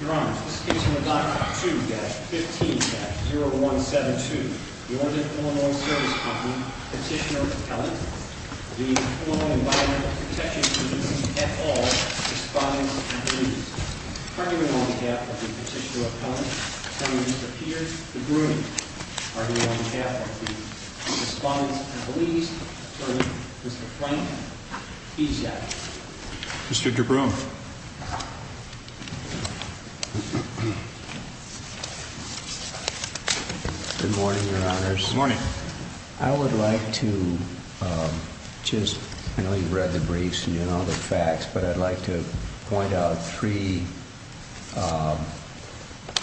Your Honor, this case is Medoc 2-15-0172. The IL Svs. Co, Petitioner Appellant, the IL Environmental Protection Agency, et al. Respondents and Beliefs. Cardinal on behalf of the Petitioner Appellant, Attorney Mr. Peter DeBruin. Cardinal on behalf of the Respondents and Beliefs, Attorney Mr. Frank Esack. Mr. DeBruin. Good morning, Your Honors. Good morning. I would like to just, I know you've read the briefs and you know the facts, but I'd like to point out three,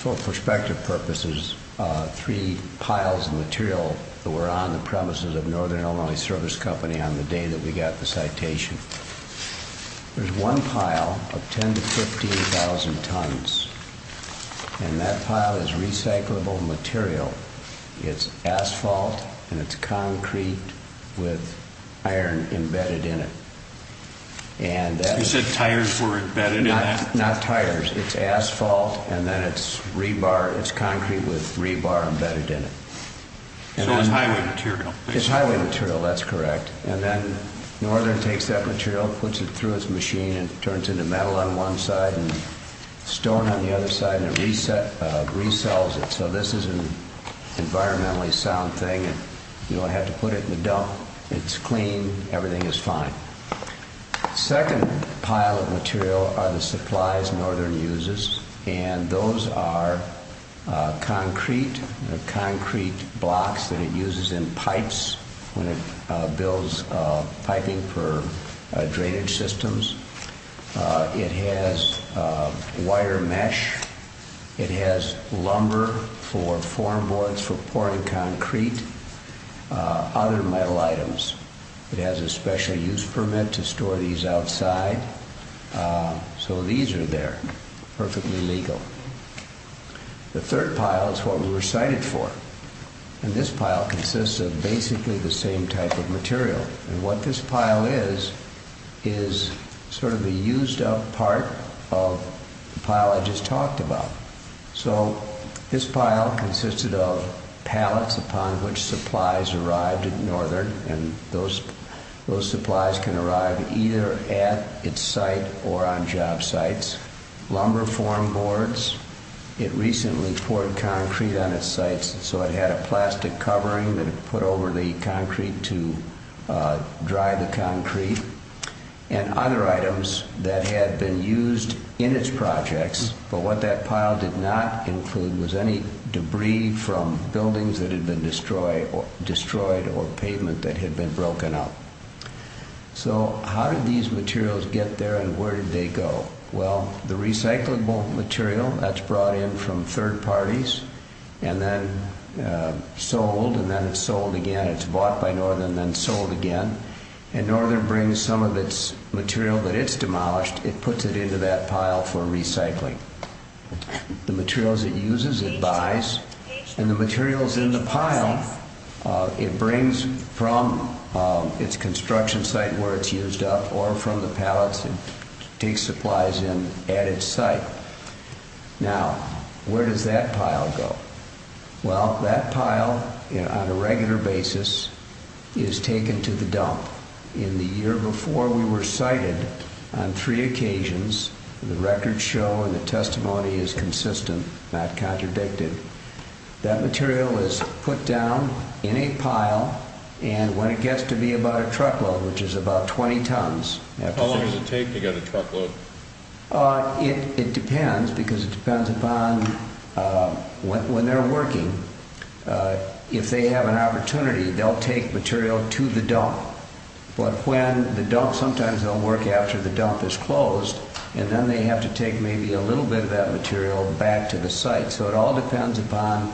for perspective purposes, three piles of material that were on the premises of Northern Illinois Service Company on the day that we got the citation. There's one pile of 10,000 to 15,000 tons, and that pile is recyclable material. It's asphalt and it's concrete with iron embedded in it. You said tires were embedded in that? Not tires. It's asphalt and then it's rebar. It's concrete with rebar embedded in it. So it's highway material. It's highway material, that's correct. And then Northern takes that material, puts it through its machine and turns it into metal on one side and stone on the other side and it resells it. So this is an environmentally sound thing. You don't have to put it in the dump. It's clean. Everything is fine. Second pile of material are the supplies Northern uses, and those are concrete, concrete blocks that it uses in pipes when it builds piping for drainage systems. It has wire mesh. It has lumber for formboards for pouring concrete, other metal items. It has a special use permit to store these outside. So these are there, perfectly legal. The third pile is what we were cited for, and this pile consists of basically the same type of material, and what this pile is is sort of the used up part of the pile I just talked about. So this pile consisted of pallets upon which supplies arrived at Northern, and those supplies can arrive either at its site or on job sites. Lumber formboards. It recently poured concrete on its sites, so it had a plastic covering that it put over the concrete to dry the concrete, and other items that had been used in its projects, but what that pile did not include was any debris from buildings that had been destroyed or pavement that had been broken up. So how did these materials get there and where did they go? Well, the recyclable material, that's brought in from third parties and then sold, and then it's sold again. It's bought by Northern and then sold again, and Northern brings some of its material that it's demolished, it puts it into that pile for recycling. The materials it uses, it buys, and the materials in the pile, it brings from its construction site where it's used up or from the pallets it takes supplies in at its site. Now, where does that pile go? Well, that pile, on a regular basis, is taken to the dump. In the year before we were sited, on three occasions, the records show and the testimony is consistent, not contradicted, that material is put down in a pile, and when it gets to be about a truckload, which is about 20 tons… How long does it take to get a truckload? It depends, because it depends upon when they're working. If they have an opportunity, they'll take material to the dump. But when the dump, sometimes they'll work after the dump is closed, and then they have to take maybe a little bit of that material back to the site. So it all depends upon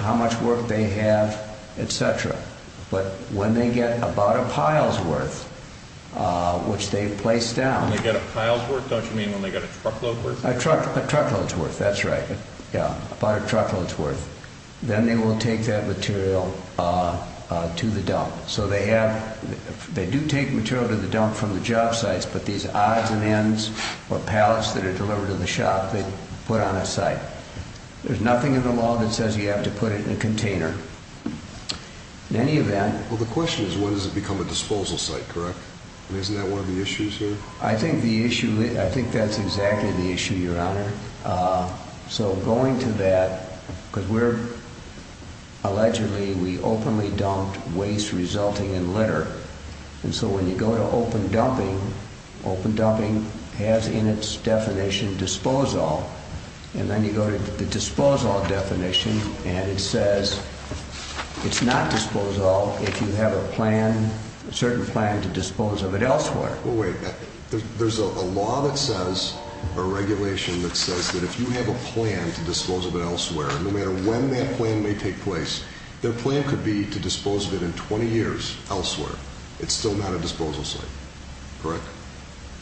how much work they have, etc. But when they get about a pile's worth, which they've placed down… When they get a pile's worth, don't you mean when they get a truckload's worth? A truckload's worth, that's right. Yeah, about a truckload's worth. Then they will take that material to the dump. So they do take material to the dump from the job sites, but these odds and ends or pallets that are delivered to the shop, they put on its site. There's nothing in the law that says you have to put it in a container. In any event… Well, the question is, when does it become a disposal site, correct? Isn't that one of the issues here? I think that's exactly the issue, Your Honor. So going to that, because we're… Allegedly, we openly dumped waste resulting in litter. And so when you go to open dumping, open dumping has in its definition, disposal. And then you go to the disposal definition, and it says it's not disposal if you have a plan, a certain plan to dispose of it elsewhere. Well, wait. There's a law that says, or regulation that says that if you have a plan to dispose of it elsewhere, no matter when that plan may take place, their plan could be to dispose of it in 20 years elsewhere. It's still not a disposal site, correct?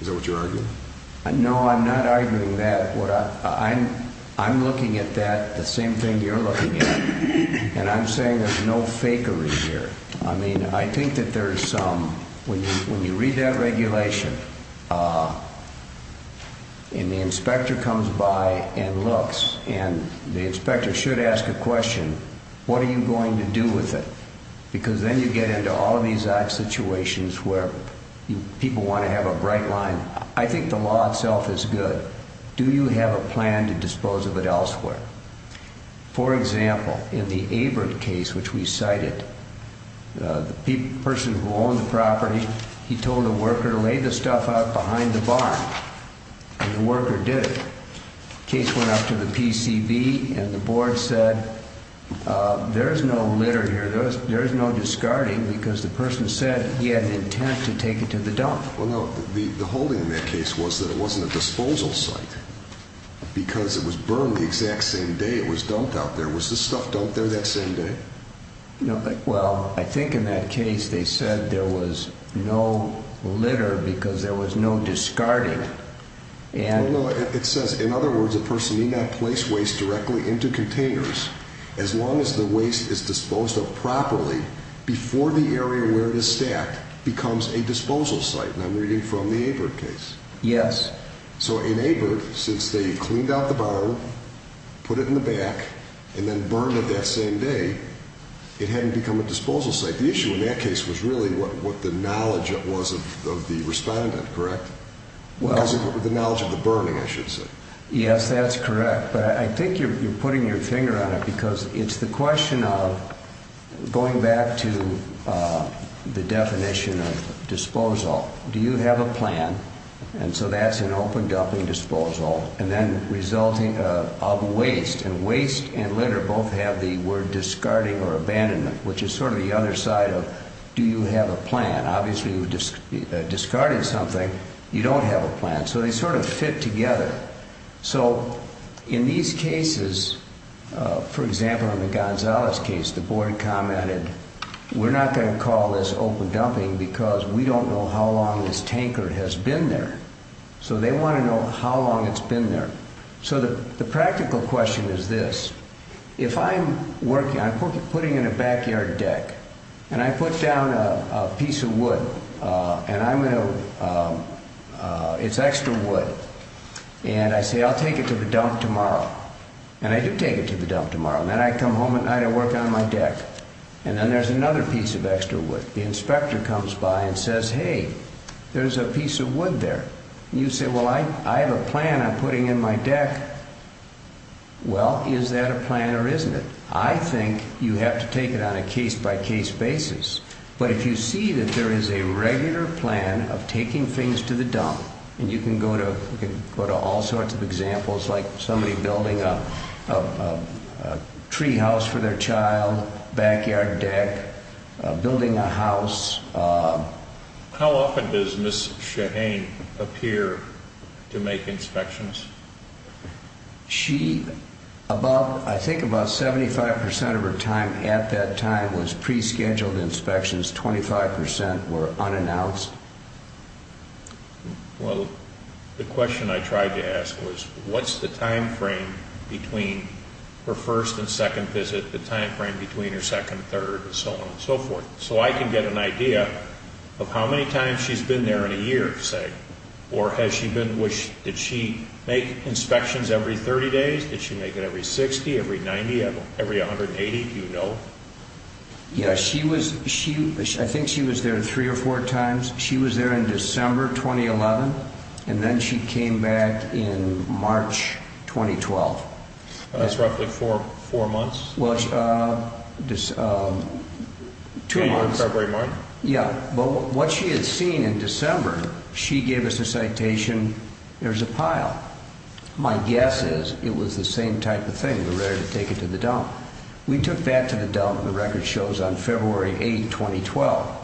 Is that what you're arguing? No, I'm not arguing that. I'm looking at that, the same thing you're looking at. And I'm saying there's no fakery here. I mean, I think that there's some… When you read that regulation, and the inspector comes by and looks, and the inspector should ask a question, what are you going to do with it? Because then you get into all of these odd situations where people want to have a bright line. I think the law itself is good. Do you have a plan to dispose of it elsewhere? For example, in the Aberdeen case, which we cited, the person who owned the property, he told the worker to lay the stuff out behind the barn. And the worker did it. Case went up to the PCV, and the board said, there is no litter here. There is no discarding, because the person said he had an intent to take it to the dump. Well, no, the holding in that case was that it wasn't a disposal site, because it was burned the exact same day it was dumped out there. Was the stuff dumped there that same day? Well, I think in that case they said there was no litter, because there was no discarding. It says, in other words, the person may not place waste directly into containers as long as the waste is disposed of properly before the area where it is stacked becomes a disposal site. And I'm reading from the Aberdeen case. Yes. So in Aberdeen, since they cleaned out the barn, put it in the back, and then burned it that same day, it hadn't become a disposal site. The issue in that case was really what the knowledge was of the respondent, correct? Well... The knowledge of the burning, I should say. Yes, that's correct. But I think you're putting your finger on it, because it's the question of going back to the definition of disposal. Do you have a plan, and so that's an open dumping disposal, and then resulting of waste, and waste and litter both have the word discarding or abandonment, which is sort of the other side of, do you have a plan? Obviously, discarding something, you don't have a plan. So they sort of fit together. So in these cases, for example, in the Gonzalez case, the board commented, we're not going to call this open dumping, because we don't know how long this tanker has been there. So they want to know how long it's been there. So the practical question is this. If I'm working, I'm putting in a backyard deck, and I put down a piece of wood, and I'm going to, it's extra wood, and I say I'll take it to the dump tomorrow, and I do take it to the dump tomorrow, and then I come home at night, I work on my deck, and then there's another piece of extra wood. The inspector comes by and says, hey, there's a piece of wood there. You say, well, I have a plan I'm putting in my deck. Well, is that a plan or isn't it? I think you have to take it on a case-by-case basis. But if you see that there is a regular plan of taking things to the dump, and you can go to all sorts of examples, like somebody building a tree house for their child, backyard deck, building a house. How often does Ms. Shaheen appear to make inspections? She, about, I think about 75% of her time at that time was pre-scheduled inspections. 25% were unannounced. Well, the question I tried to ask was, what's the time frame between her first and second visit, the time frame between her second, third, and so on and so forth? So I can get an idea of how many times she's been there in a year, say, or has she been, did she make inspections every 30 days, did she make it every 60, every 90, every 180, do you know? Yeah, she was, I think she was there three or four times. She was there in December 2011, and then she came back in March 2012. That's roughly four months? Well, two months. Can you recalibrate mine? Yeah, but what she had seen in December, she gave us a citation, there's a pile. My guess is it was the same type of thing, we're ready to take it to the dump. We took that to the dump, the record shows, on February 8, 2012.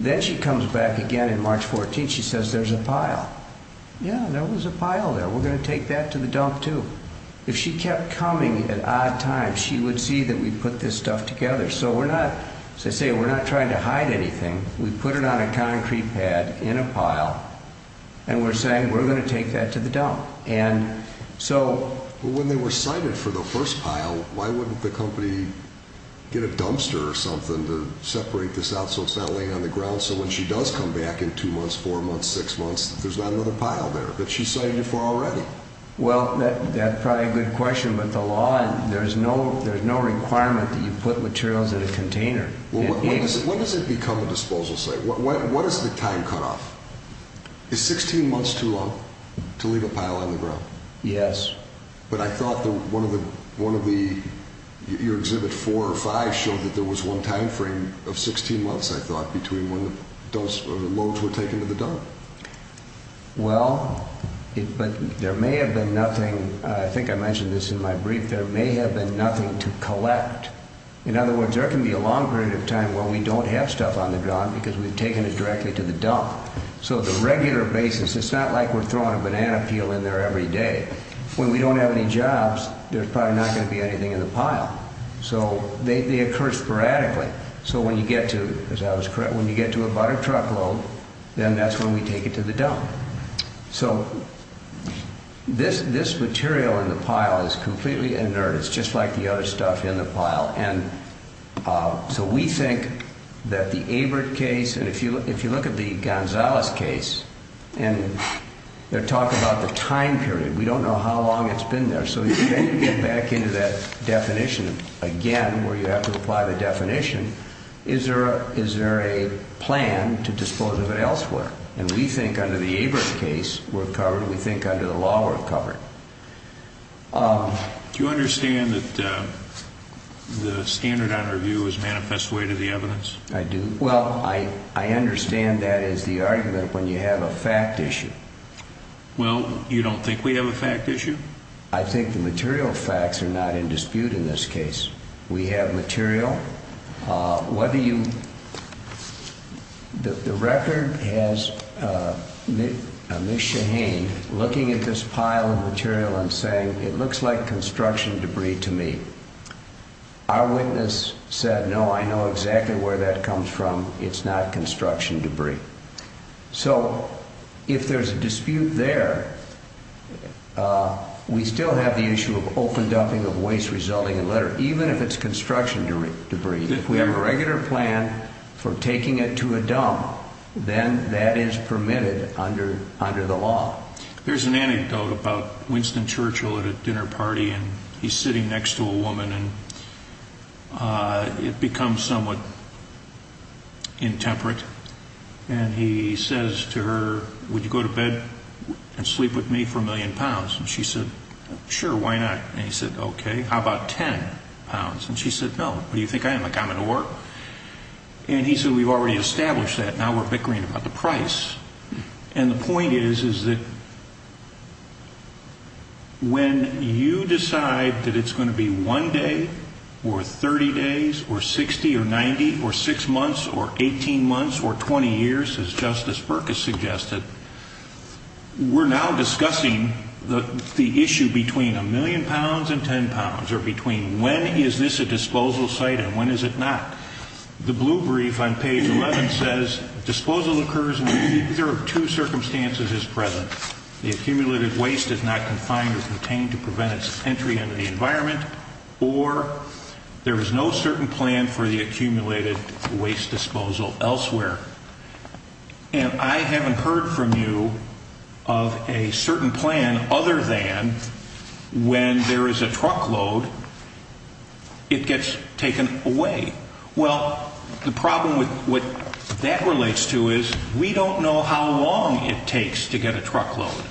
Then she comes back again in March 14, she says, there's a pile. Yeah, there was a pile there, we're going to take that to the dump, too. If she kept coming at odd times, she would see that we put this stuff together. As I say, we're not trying to hide anything, we put it on a concrete pad in a pile, and we're saying we're going to take that to the dump. When they were cited for the first pile, why wouldn't the company get a dumpster or something to separate this out so it's not laying on the ground, so when she does come back in two months, four months, six months, there's not another pile there that she's cited it for already? Well, that's probably a good question, but the law, there's no requirement that you put materials in a container. When does it become a disposal site? What is the time cutoff? Is 16 months too long to leave a pile on the ground? Yes. But I thought one of the, your exhibit four or five showed that there was one time frame of 16 months, I thought, between when the loads were taken to the dump. Well, but there may have been nothing, I think I mentioned this in my brief, there may have been nothing to collect. In other words, there can be a long period of time where we don't have stuff on the ground because we've taken it directly to the dump. So the regular basis, it's not like we're throwing a banana peel in there every day. When we don't have any jobs, there's probably not going to be anything in the pile. So they occur sporadically. So when you get to, as I was correct, when you get to a butter truckload, then that's when we take it to the dump. So this material in the pile is completely inert. It's just like the other stuff in the pile. And so we think that the Abert case, and if you look at the Gonzalez case, and they're talking about the time period. We don't know how long it's been there. So then you get back into that definition again where you have to apply the definition. Is there a plan to dispose of it elsewhere? And we think under the Abert case we're covered. We think under the law we're covered. Do you understand that the standard on review is manifest way to the evidence? I do. Well, I understand that is the argument when you have a fact issue. Well, you don't think we have a fact issue? I think the material facts are not in dispute in this case. We have material. The record has Ms. Shaheen looking at this pile of material and saying, it looks like construction debris to me. Our witness said, no, I know exactly where that comes from. It's not construction debris. So if there's a dispute there, we still have the issue of open dumping of waste resulting in litter, even if it's construction debris. If we have a regular plan for taking it to a dump, then that is permitted under the law. There's an anecdote about Winston Churchill at a dinner party, and he's sitting next to a woman, and it becomes somewhat intemperate. And he says to her, would you go to bed and sleep with me for a million pounds? And she said, sure, why not? And he said, okay, how about ten pounds? And she said, no, what do you think I am, a common whore? And he said, we've already established that. Now we're bickering about the price. And the point is, is that when you decide that it's going to be one day or 30 days or 60 or 90 or 6 months or 18 months or 20 years, as Justice Burke has suggested, we're now discussing the issue between a million pounds and ten pounds, or between when is this a disposal site and when is it not. The blue brief on page 11 says disposal occurs when either of two circumstances is present. The accumulated waste is not confined or contained to prevent its entry into the environment, or there is no certain plan for the accumulated waste disposal elsewhere. And I haven't heard from you of a certain plan other than when there is a truckload, it gets taken away. Well, the problem with what that relates to is we don't know how long it takes to get a truckload.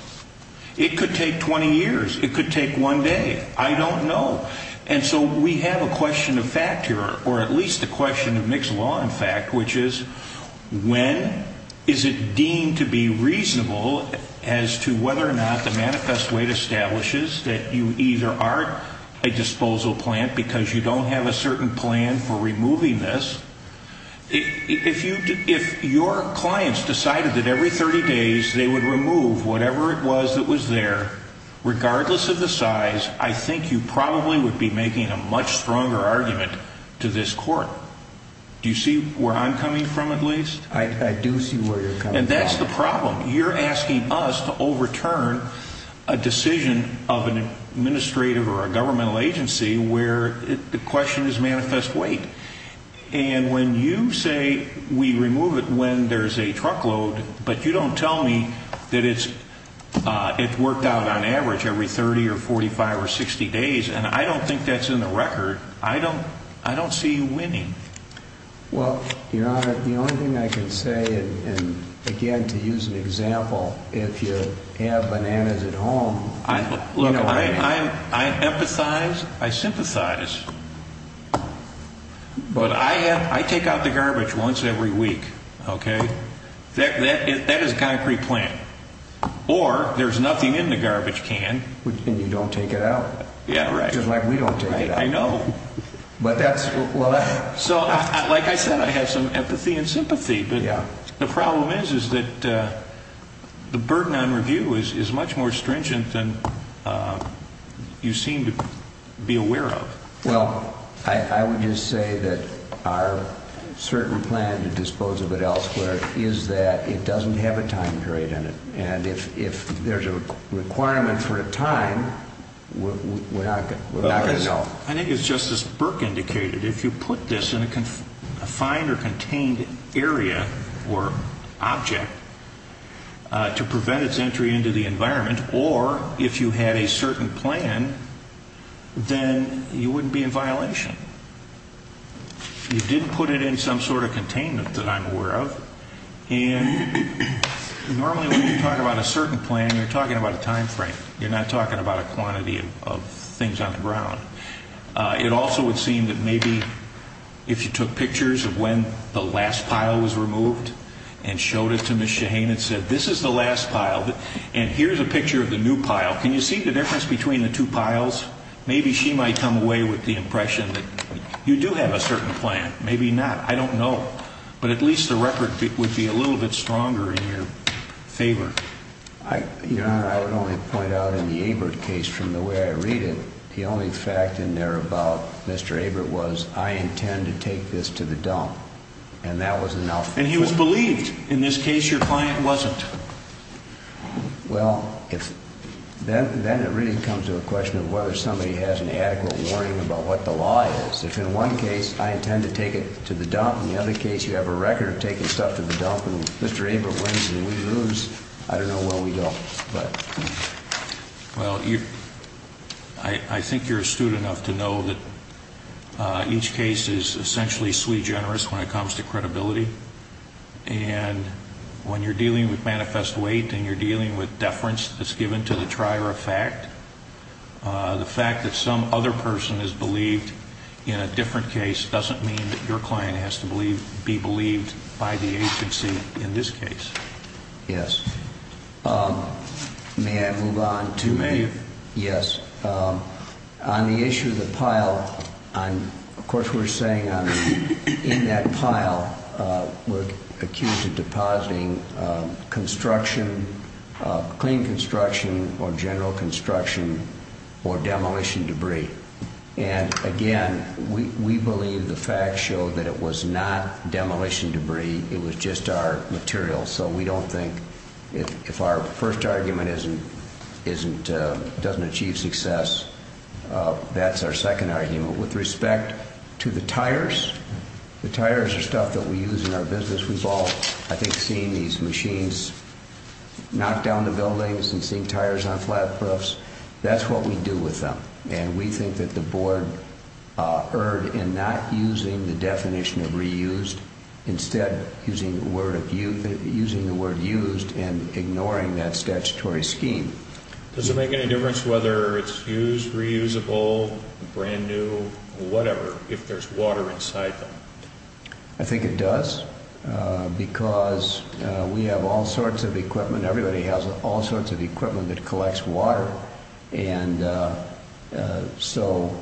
It could take 20 years. It could take one day. I don't know. And so we have a question of fact here, or at least a question of mixed law in fact, which is when is it deemed to be reasonable as to whether or not the manifest weight establishes that you either are a disposal plant because you don't have a certain plan for removing this. If your clients decided that every 30 days they would remove whatever it was that was there, regardless of the size, I think you probably would be making a much stronger argument to this court. Do you see where I'm coming from at least? I do see where you're coming from. And that's the problem. You're asking us to overturn a decision of an administrative or a governmental agency where the question is manifest weight. And when you say we remove it when there's a truckload, but you don't tell me that it's worked out on average every 30 or 45 or 60 days, and I don't think that's in the record, I don't see you winning. Well, Your Honor, the only thing I can say, and again, to use an example, if you have bananas at home. Look, I empathize, I sympathize, but I take out the garbage once every week, okay? That is a concrete plan. Or there's nothing in the garbage can. And you don't take it out. Yeah, right. Just like we don't take it out. I know. But that's what I... So, like I said, I have some empathy and sympathy. The problem is that the burden on review is much more stringent than you seem to be aware of. Well, I would just say that our certain plan to dispose of it elsewhere is that it doesn't have a time period in it. And if there's a requirement for a time, we're not going to know. Well, I think as Justice Burke indicated, if you put this in a confined or contained area or object to prevent its entry into the environment, or if you had a certain plan, then you wouldn't be in violation. You didn't put it in some sort of containment that I'm aware of. And normally when you talk about a certain plan, you're talking about a time frame. You're not talking about a quantity of things on the ground. It also would seem that maybe if you took pictures of when the last pile was removed and showed it to Ms. Shaheen and said, this is the last pile, and here's a picture of the new pile, can you see the difference between the two piles? Maybe she might come away with the impression that you do have a certain plan. Maybe not. I don't know. But at least the record would be a little bit stronger in your favor. Your Honor, I would only point out in the Ebert case from the way I read it, the only fact in there about Mr. Ebert was I intend to take this to the dump, and that was enough. And he was believed. In this case, your client wasn't. Well, then it really comes to a question of whether somebody has an adequate warning about what the law is. If in one case I intend to take it to the dump and in the other case you have a record of taking stuff to the dump and Mr. Ebert wins and we lose, I don't know where we go. Well, I think you're astute enough to know that each case is essentially sui generis when it comes to credibility. And when you're dealing with manifest weight and you're dealing with deference that's given to the trier of fact, the fact that some other person is believed in a different case doesn't mean that your client has to be believed by the agency in this case. Yes. May I move on? You may. Yes. On the issue of the pile, of course we're saying in that pile we're accused of depositing construction, clean construction or general construction or demolition debris. And, again, we believe the facts show that it was not demolition debris. It was just our material. So we don't think if our first argument doesn't achieve success, that's our second argument. With respect to the tires, the tires are stuff that we use in our business. I think seeing these machines knock down the buildings and seeing tires on flat roofs, that's what we do with them. And we think that the board erred in not using the definition of reused, instead using the word used and ignoring that statutory scheme. Does it make any difference whether it's used, reusable, brand new, whatever, if there's water inside them? I think it does because we have all sorts of equipment. Everybody has all sorts of equipment that collects water. And so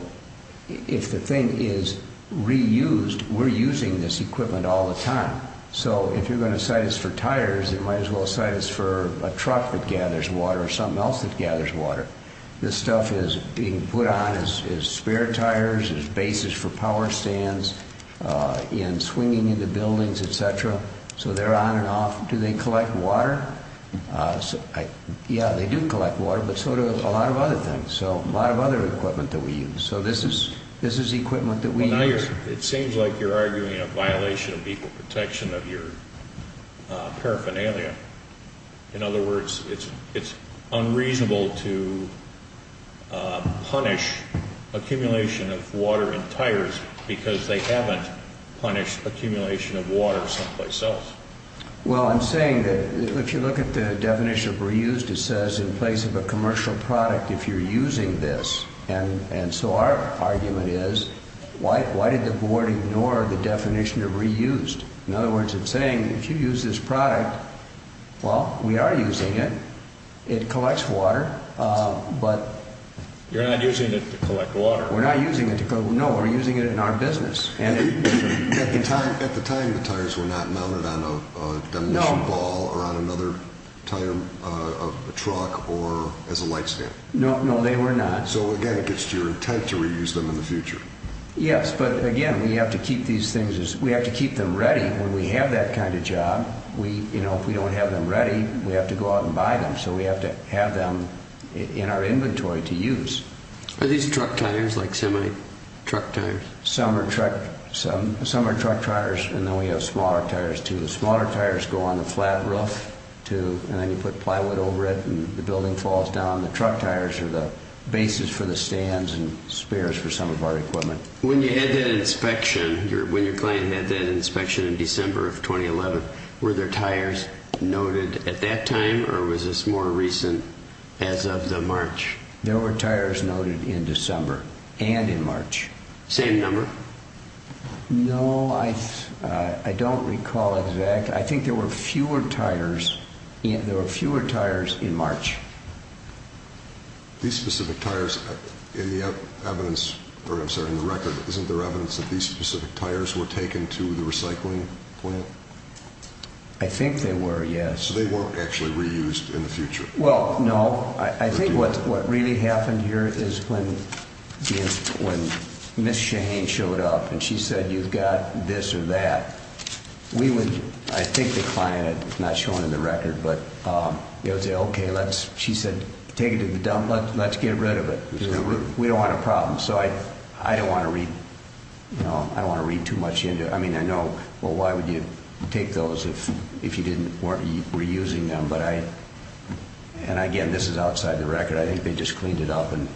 if the thing is reused, we're using this equipment all the time. So if you're going to cite us for tires, you might as well cite us for a truck that gathers water or something else that gathers water. This stuff is being put on as spare tires, as bases for power stands, in swinging into buildings, et cetera. So they're on and off. Do they collect water? Yeah, they do collect water, but so do a lot of other things, a lot of other equipment that we use. So this is equipment that we use. It seems like you're arguing a violation of equal protection of your paraphernalia. In other words, it's unreasonable to punish accumulation of water in tires because they haven't punished accumulation of water someplace else. Well, I'm saying that if you look at the definition of reused, it says in place of a commercial product if you're using this. And so our argument is why did the board ignore the definition of reused? In other words, it's saying if you use this product, well, we are using it. It collects water. You're not using it to collect water. We're not using it to collect water. No, we're using it in our business. At the time, the tires were not mounted on a demolition ball or on another tire of a truck or as a light stand. No, they were not. So, again, it gets to your intent to reuse them in the future. Yes, but, again, we have to keep these things as we have to keep them ready when we have that kind of job. If we don't have them ready, we have to go out and buy them. So we have to have them in our inventory to use. Are these truck tires, like semi-truck tires? Some are truck tires, and then we have smaller tires, too. The smaller tires go on the flat roof, too, and then you put plywood over it and the building falls down. The truck tires are the basis for the stands and spares for some of our equipment. When you had that inspection, when your client had that inspection in December of 2011, were there tires noted at that time, or was this more recent as of the March? There were tires noted in December and in March. Same number? No, I don't recall exactly. I think there were fewer tires in March. These specific tires, in the evidence, or I'm sorry, in the record, isn't there evidence that these specific tires were taken to the recycling plant? I think they were, yes. So they weren't actually reused in the future? Well, no. I think what really happened here is when Ms. Shaheen showed up and she said, you've got this or that, we would, I think the client, it's not shown in the record, but we would say, okay, she said, take it to the dump, let's get rid of it. We don't want a problem. So I don't want to read too much into it. I mean, I know, well, why would you take those if you weren't reusing them? And, again, this is outside the record. I think they just cleaned it up and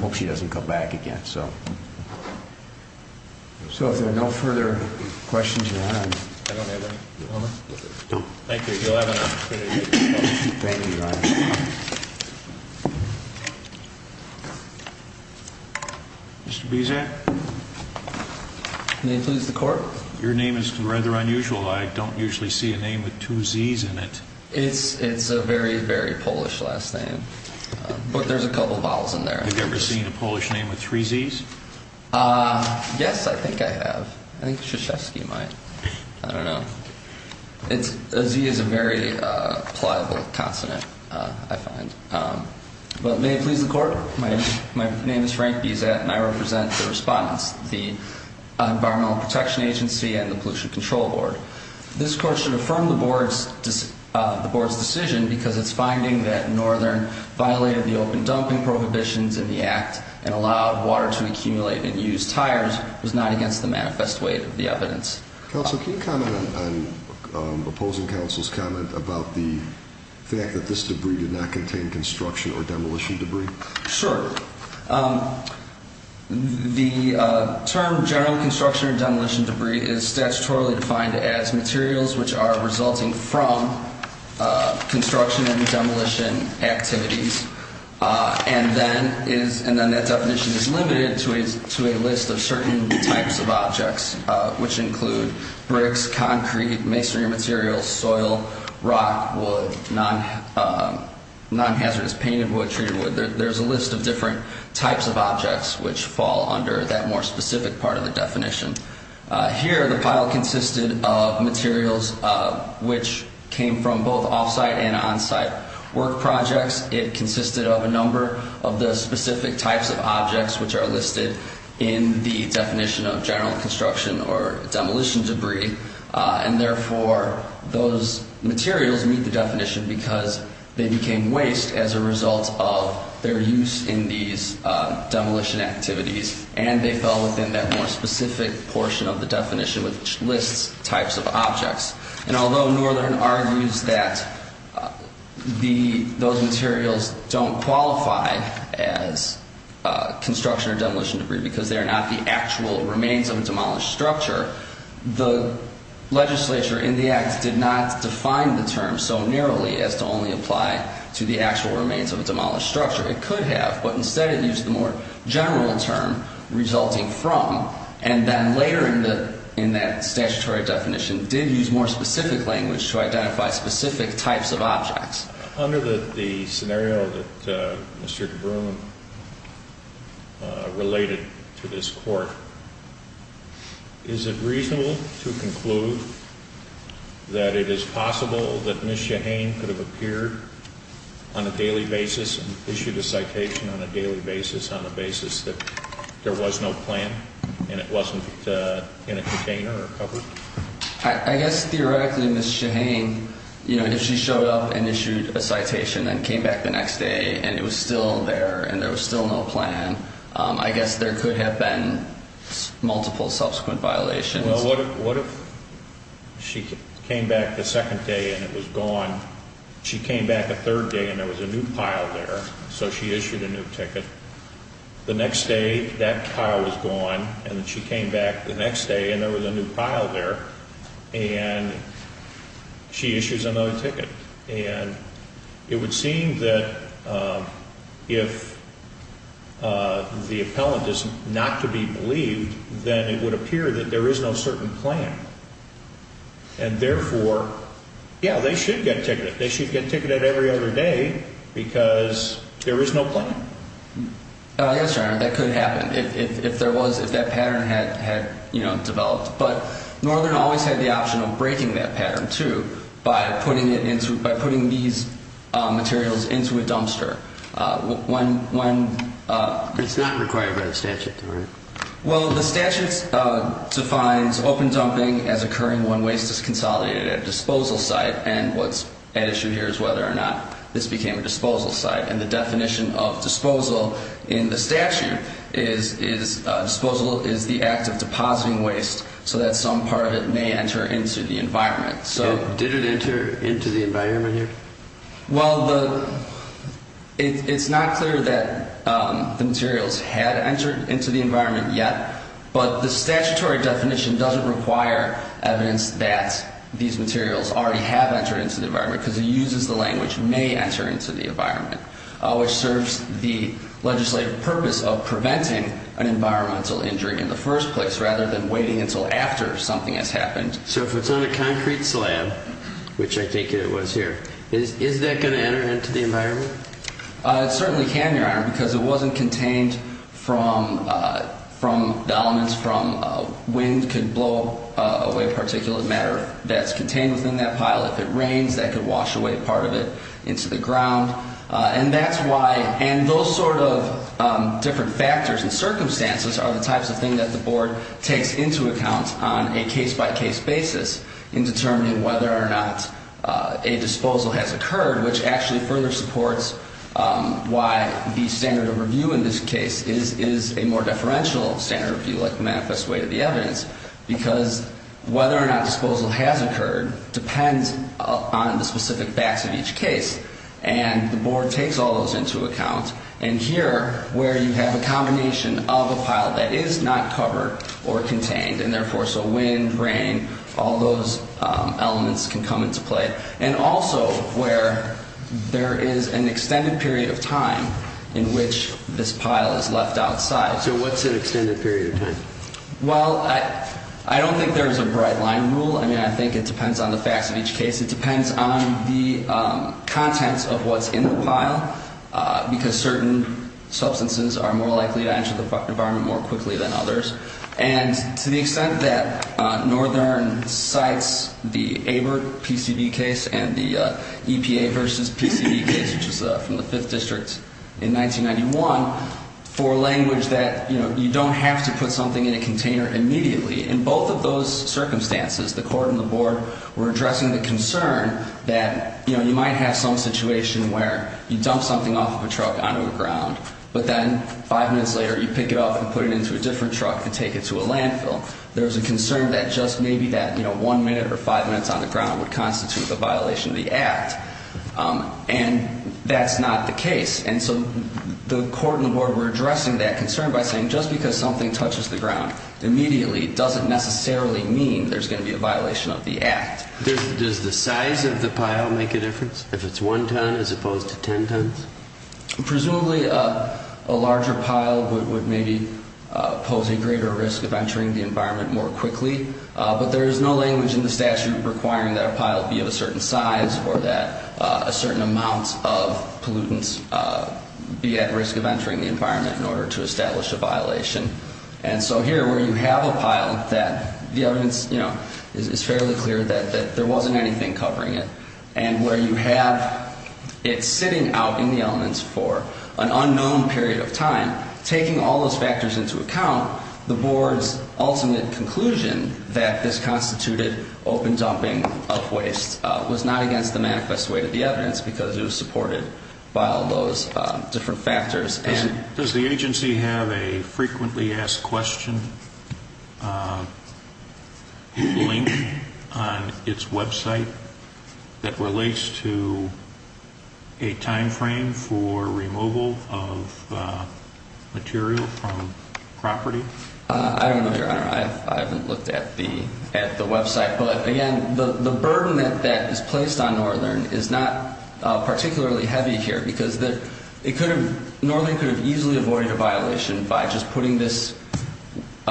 hope she doesn't come back again. So if there are no further questions, your Honor. I don't have any. No. Thank you. You'll have an opportunity. Thank you, Your Honor. Mr. Buziak? May it please the Court? Your name is rather unusual. I don't usually see a name with two Zs in it. It's a very, very Polish last name. But there's a couple of vowels in there. Have you ever seen a Polish name with three Zs? Yes, I think I have. I think Krzyzewski might. I don't know. A Z is a very pliable consonant, I find. But may it please the Court? My name is Frank Buziak and I represent the respondents, the Environmental Protection Agency and the Pollution Control Board. This Court should affirm the Board's decision because its finding that Northern violated the open dumping prohibitions in the Act and allowed water to accumulate in used tires was not against the manifest weight of the evidence. Counsel, can you comment on opposing counsel's comment about the fact that this debris did not contain construction or demolition debris? Sure. The term general construction or demolition debris is statutorily defined as materials which are resulting from construction and demolition activities and then that definition is limited to a list of certain types of objects which include bricks, concrete, masonry materials, soil, rock, wood, non-hazardous painted wood, treated wood. There's a list of different types of objects which fall under that more specific part of the definition. Here the pile consisted of materials which came from both off-site and on-site work projects. It consisted of a number of the specific types of objects which are listed in the definition of general construction or demolition debris and therefore those materials meet the definition because they became waste as a result of their use in these demolition activities and they fell within that more specific portion of the definition which lists types of objects. And although Northern argues that those materials don't qualify as construction or demolition debris because they are not the actual remains of a demolished structure, the legislature in the act did not define the term so narrowly as to only apply to the actual remains of a demolished structure. It could have, but instead it used the more general term resulting from and then later in that statutory definition did use more specific language to identify specific types of objects. Under the scenario that Mr. DeBruin related to this court, is it reasonable to conclude that it is possible that Ms. Shahane could have appeared on a daily basis and issued a citation on a daily basis on the basis that there was no plan and it wasn't in a container or covered? I guess theoretically Ms. Shahane, you know, if she showed up and issued a citation and came back the next day and it was still there and there was still no plan, I guess there could have been multiple subsequent violations. Well, what if she came back the second day and it was gone? She came back the third day and there was a new pile there, so she issued a new ticket. The next day that pile was gone and she came back the next day and there was a new pile there and she issues another ticket. And it would seem that if the appellant is not to be believed, then it would appear that there is no certain plan. And therefore, yeah, they should get ticketed. They should get ticketed every other day because there is no plan. Yes, Your Honor, that could happen if that pattern had developed. But Northern always had the option of breaking that pattern, too, by putting these materials into a dumpster. Well, the statute defines open dumping as occurring when waste is consolidated at a disposal site. And what's at issue here is whether or not this became a disposal site. And the definition of disposal in the statute is disposal is the act of depositing waste so that some part of it may enter into the environment. Did it enter into the environment here? Well, it's not clear that the materials had entered into the environment yet, but the statutory definition doesn't require evidence that these materials already have entered into the environment because it uses the language may enter into the environment, which serves the legislative purpose of preventing an environmental injury in the first place rather than waiting until after something has happened. So if it's on a concrete slab, which I think it was here, is that going to enter into the environment? It certainly can, Your Honor, because it wasn't contained from the elements, from wind could blow away particulate matter that's contained within that pile. If it rains, that could wash away part of it into the ground. And those sort of different factors and circumstances are the types of things that the board takes into account on a case-by-case basis in determining whether or not a disposal has occurred, which actually further supports why the standard of review in this case is a more deferential standard of review, like the manifest way to the evidence, because whether or not disposal has occurred depends on the specific facts of each case. And the board takes all those into account. And here, where you have a combination of a pile that is not covered or contained, and therefore so wind, rain, all those elements can come into play, and also where there is an extended period of time in which this pile is left outside. So what's an extended period of time? Well, I don't think there's a bright line rule. I mean, I think it depends on the facts of each case. It depends on the contents of what's in the pile, because certain substances are more likely to enter the environment more quickly than others. And to the extent that Northern cites the ABRT PCV case and the EPA versus PCV case, which is from the Fifth District in 1991, for language that, you know, you don't have to put something in a container immediately, in both of those circumstances, the court and the board were addressing the concern that, you know, you might have some situation where you dump something off of a truck onto the ground, but then five minutes later you pick it up and put it into a different truck and take it to a landfill. There's a concern that just maybe that, you know, one minute or five minutes on the ground would constitute a violation of the act. And that's not the case. And so the court and the board were addressing that concern by saying, just because something touches the ground immediately doesn't necessarily mean there's going to be a violation of the act. Does the size of the pile make a difference, if it's one ton as opposed to ten tons? Presumably a larger pile would maybe pose a greater risk of entering the environment more quickly. But there is no language in the statute requiring that a pile be of a certain size or that a certain amount of pollutants be at risk of entering the environment in order to establish a violation. And so here, where you have a pile that the evidence is fairly clear that there wasn't anything covering it, and where you have it sitting out in the elements for an unknown period of time, taking all those factors into account, the board's ultimate conclusion that this constituted open dumping of waste was not against the manifest way of the evidence because it was supported by all those different factors. Does the agency have a frequently asked question link on its website that relates to a time frame for removal of material from property? I don't know, Your Honor. I haven't looked at the website. But, again, the burden that is placed on Northern is not particularly heavy here because Northern could have easily avoided a violation by just putting these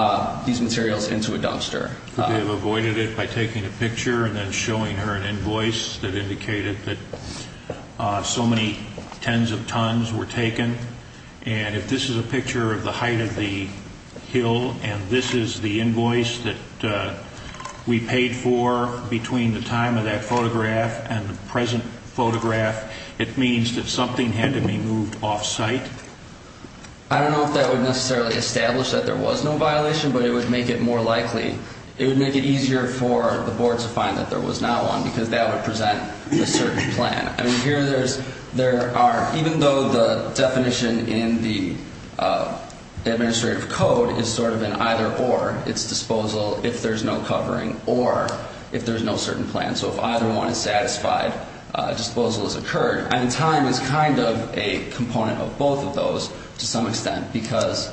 materials into a dumpster. They have avoided it by taking a picture and then showing her an invoice that indicated that so many tens of tons were taken. And if this is a picture of the height of the hill and this is the invoice that we paid for between the time of that photograph and the present photograph, it means that something had to be moved off-site? I don't know if that would necessarily establish that there was no violation, but it would make it more likely. It would make it easier for the board to find that there was not one because that would present a certain plan. I mean, here there are, even though the definition in the administrative code is sort of an either-or, it's disposal if there's no covering or if there's no certain plan. So if either one is satisfied, disposal has occurred. I mean, time is kind of a component of both of those to some extent because,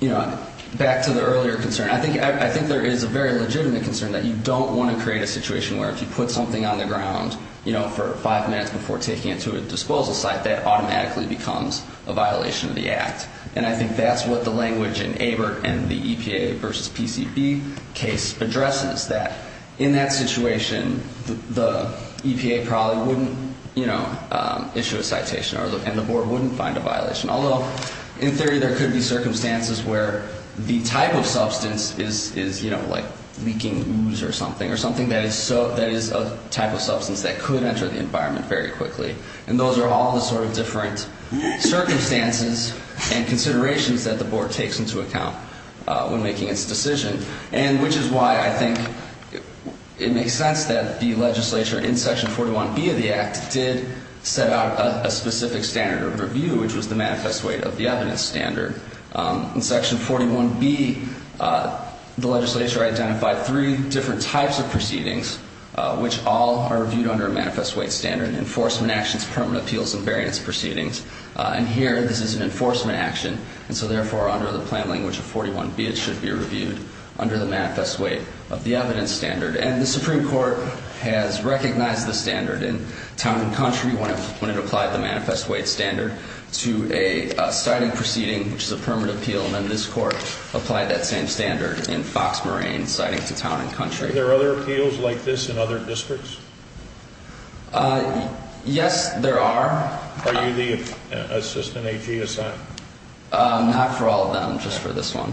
you know, back to the earlier concern, I think there is a very legitimate concern that you don't want to create a situation where if you put something on the ground, you know, for five minutes before taking it to a disposal site, that automatically becomes a violation of the act. And I think that's what the language in ABERT and the EPA versus PCB case addresses, that in that situation, the EPA probably wouldn't, you know, issue a citation and the board wouldn't find a violation. Although, in theory, there could be circumstances where the type of substance is, you know, like leaking ooze or something or something that is a type of substance that could enter the environment very quickly. And those are all the sort of different circumstances and considerations that the board takes into account when making its decision. And which is why I think it makes sense that the legislature in Section 41B of the act did set out a specific standard of review, which was the manifest weight of the evidence standard. In Section 41B, the legislature identified three different types of proceedings, which all are reviewed under a manifest weight standard, enforcement actions, permanent appeals, and variance proceedings. And here, this is an enforcement action. And so, therefore, under the plan language of 41B, it should be reviewed under the manifest weight of the evidence standard. And the Supreme Court has recognized the standard in town and country when it applied the manifest weight standard to a citing proceeding, which is a permanent appeal, and then this court applied that same standard in Fox Moraine, citing to town and country. Are there other appeals like this in other districts? Yes, there are. Are you the assistant AG assigned? Not for all of them, just for this one.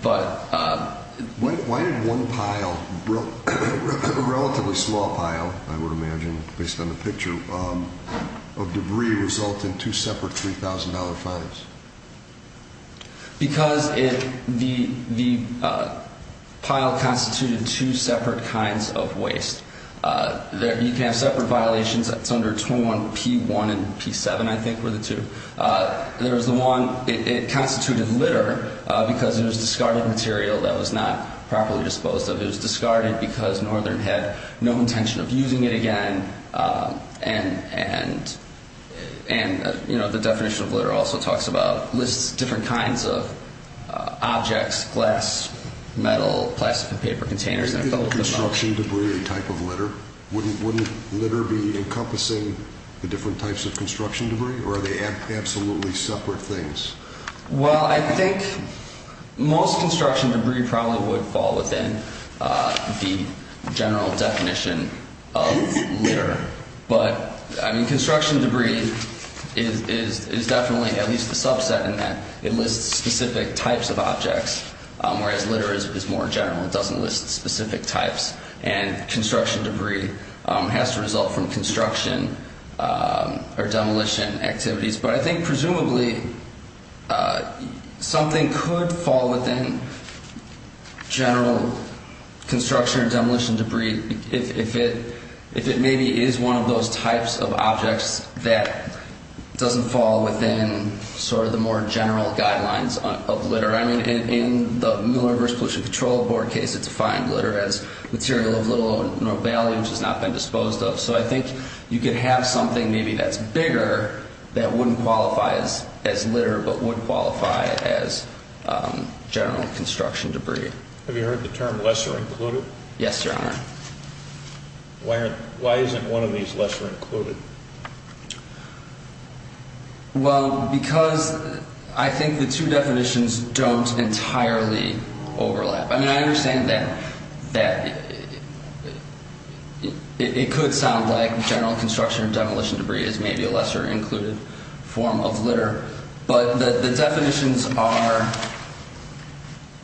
Why did one pile, a relatively small pile, I would imagine, based on the picture, of debris result in two separate $3,000 fines? Because the pile constituted two separate kinds of waste. You can have separate violations. That's under 21P1 and P7, I think, were the two. There was the one, it constituted litter because it was discarded material that was not properly disposed of. It was discarded because Northern had no intention of using it again. And, you know, the definition of litter also talks about, lists different kinds of objects, glass, metal, plastic and paper containers. Isn't construction debris a type of litter? Wouldn't litter be encompassing the different types of construction debris, or are they absolutely separate things? Well, I think most construction debris probably would fall within the general definition of litter. But, I mean, construction debris is definitely at least a subset in that it lists specific types of objects, whereas litter is more general. It doesn't list specific types. And construction debris has to result from construction or demolition activities. But I think, presumably, something could fall within general construction or demolition debris if it maybe is one of those types of objects that doesn't fall within sort of the more general guidelines of litter. I mean, in the Miller Reverse Pollution Control Board case, it defined litter as material of little value which has not been disposed of. So I think you could have something maybe that's bigger that wouldn't qualify as litter but would qualify as general construction debris. Have you heard the term lesser included? Yes, Your Honor. Why isn't one of these lesser included? Well, because I think the two definitions don't entirely overlap. I mean, I understand that it could sound like general construction or demolition debris is maybe a lesser included form of litter. But the definitions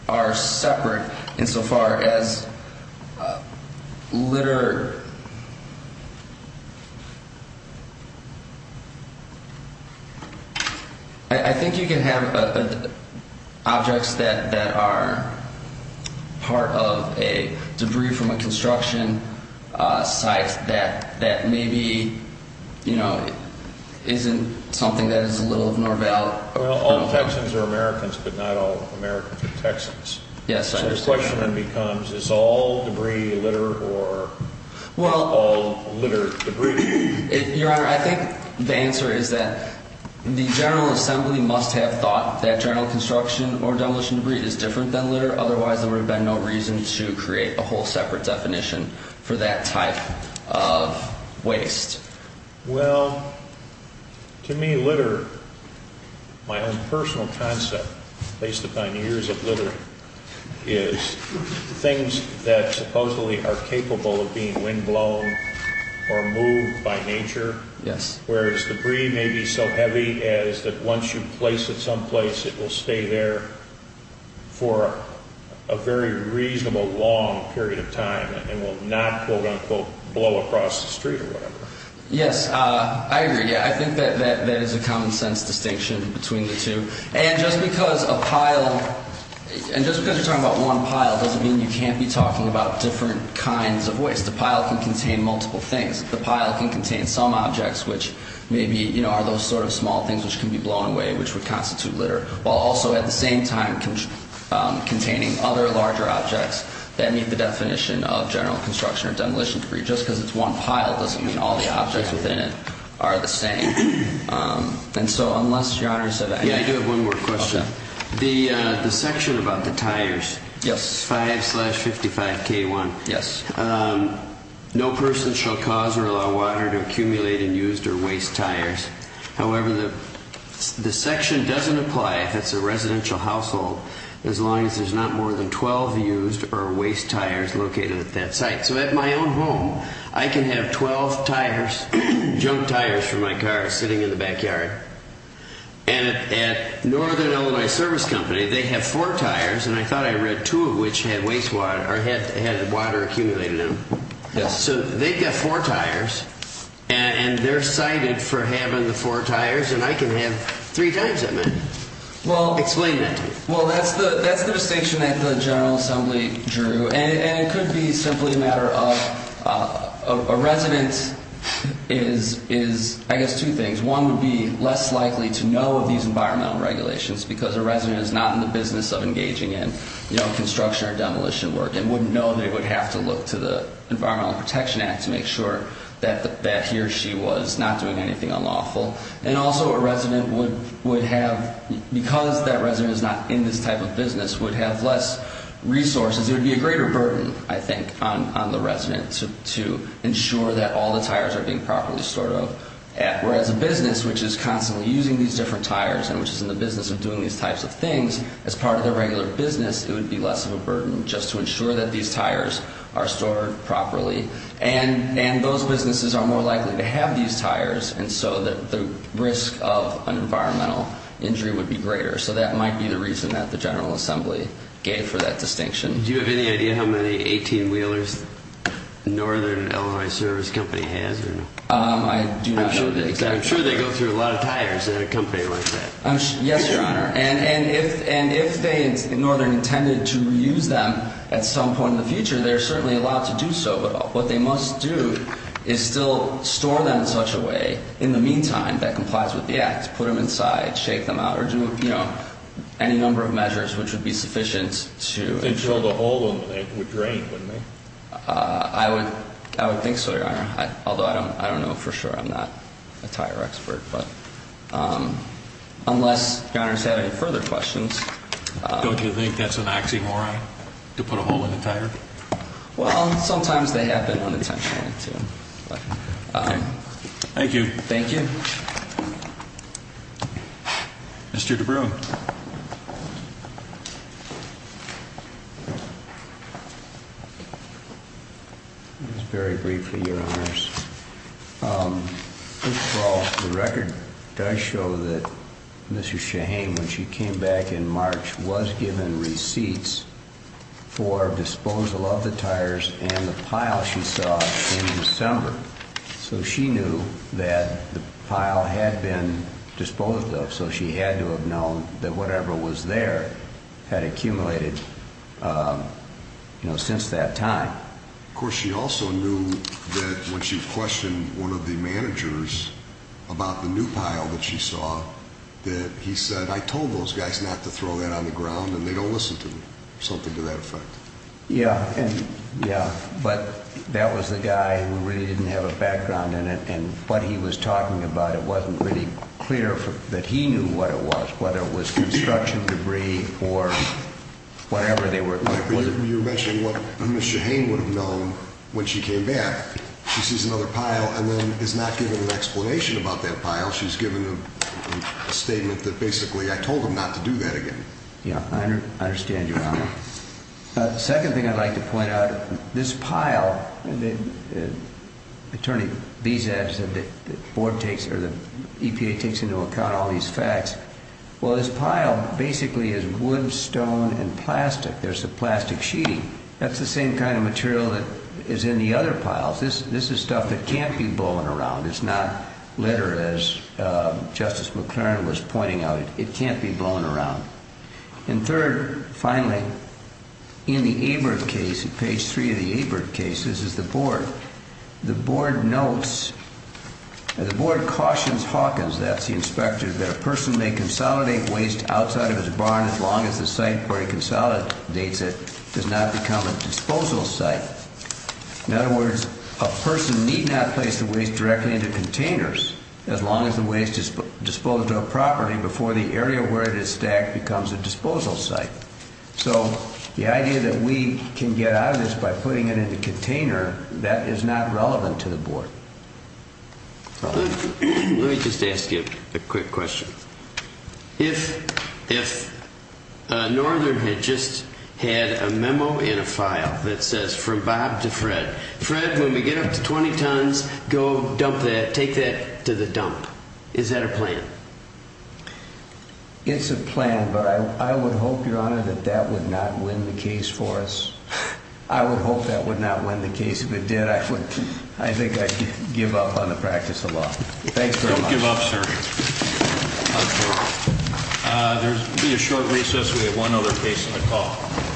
are separate insofar as litter. I think you can have objects that are part of a debris from a construction site that maybe, you know, isn't something that is a little of more value. Well, all Texans are Americans, but not all Americans are Texans. Yes, I understand that. Well, I think the answer is that the General Assembly must have thought that general construction or demolition debris is different than litter. Otherwise, there would have been no reason to create a whole separate definition for that type of waste. Well, to me, litter, my own personal concept based upon years of litter, is things that supposedly are capable of being windblown or moved by nature, whereas debris may be so heavy as that once you place it someplace, it will stay there for a very reasonable long period of time and will not, quote, unquote, blow across the street or whatever. Yes, I agree. I think that that is a common sense distinction between the two. And just because a pile, and just because you're talking about one pile doesn't mean you can't be talking about different kinds of waste. Because the pile can contain multiple things. The pile can contain some objects, which maybe, you know, are those sort of small things which can be blown away, which would constitute litter, while also at the same time containing other larger objects that meet the definition of general construction or demolition debris. Just because it's one pile doesn't mean all the objects within it are the same. And so, unless Your Honor said that. Yeah, I do have one more question. Okay. The section about the tires. Yes. 5 slash 55K1. Yes. No person shall cause or allow water to accumulate in used or waste tires. However, the section doesn't apply if it's a residential household, as long as there's not more than 12 used or waste tires located at that site. So at my own home, I can have 12 tires, junk tires for my car sitting in the backyard. And at Northern Illinois Service Company, they have four tires. And I thought I read two of which had water accumulated in them. Yes. So they've got four tires. And they're cited for having the four tires. And I can have three times that amount. Explain that to me. Well, that's the distinction that the General Assembly drew. And it could be simply a matter of a resident is, I guess, two things. One would be less likely to know of these environmental regulations because a resident is not in the business of engaging in construction or demolition work and wouldn't know they would have to look to the Environmental Protection Act to make sure that he or she was not doing anything unlawful. And also a resident would have, because that resident is not in this type of business, would have less resources. It would be a greater burden, I think, on the resident to ensure that all the tires are being properly stored up. Whereas a business which is constantly using these different tires and which is in the business of doing these types of things, as part of their regular business, it would be less of a burden just to ensure that these tires are stored properly. And those businesses are more likely to have these tires. And so the risk of an environmental injury would be greater. So that might be the reason that the General Assembly gave for that distinction. Do you have any idea how many 18-wheelers Northern Illinois Service Company has? I do not know the exact number. I'm sure they go through a lot of tires at a company like that. Yes, Your Honor. And if Northern intended to reuse them at some point in the future, they're certainly allowed to do so. But what they must do is still store them in such a way, in the meantime, that complies with the Act, put them inside, shake them out, or do, you know, any number of measures which would be sufficient to ensure the whole of them would drain, wouldn't they? I would think so, Your Honor, although I don't know for sure. I'm not a tire expert. But unless Your Honor has had any further questions. Don't you think that's an oxymoron to put a hole in the tire? Well, sometimes they happen unintentionally, too. Thank you. Thank you. Mr. DeBruin. Just very briefly, Your Honors. First of all, the record does show that Mrs. Shaheen, when she came back in March, was given receipts for disposal of the tires and the pile she saw in December. So she knew that the pile had been disposed of, so she had to have known that whatever was there had accumulated, you know, since that time. Of course, she also knew that when she questioned one of the managers about the new pile that she saw, that he said, I told those guys not to throw that on the ground, and they don't listen to me, or something to that effect. Yeah. Yeah. But that was the guy who really didn't have a background in it. And what he was talking about, it wasn't really clear that he knew what it was, whether it was construction debris or whatever they were. You're mentioning what Mrs. Shaheen would have known when she came back. She sees another pile and then is not given an explanation about that pile. She's given a statement that basically, I told them not to do that again. Yeah. I understand, Your Honor. The second thing I'd like to point out, this pile, Attorney Beza said that the EPA takes into account all these facts. Well, this pile basically is wood, stone, and plastic. There's the plastic sheeting. That's the same kind of material that is in the other piles. This is stuff that can't be blown around. It's not litter, as Justice McLaren was pointing out. It can't be blown around. And third, finally, in the ABRT case, page 3 of the ABRT case, this is the board. The board notes, the board cautions Hawkins, that's the inspector, that a person may consolidate waste outside of his barn as long as the site where he consolidates it does not become a disposal site. In other words, a person need not place the waste directly into containers as long as the waste is disposed of properly before the area where it is stacked becomes a disposal site. So the idea that we can get out of this by putting it in a container, that is not relevant to the board. Let me just ask you a quick question. If Northern had just had a memo in a file that says, from Bob to Fred, Fred, when we get up to 20 tons, go dump that, take that to the dump, is that a plan? It's a plan, but I would hope, Your Honor, that that would not win the case for us. I would hope that would not win the case. If it did, I think I'd give up on the practice of law. Don't give up, sir. There will be a short recess. We have one other case on the call.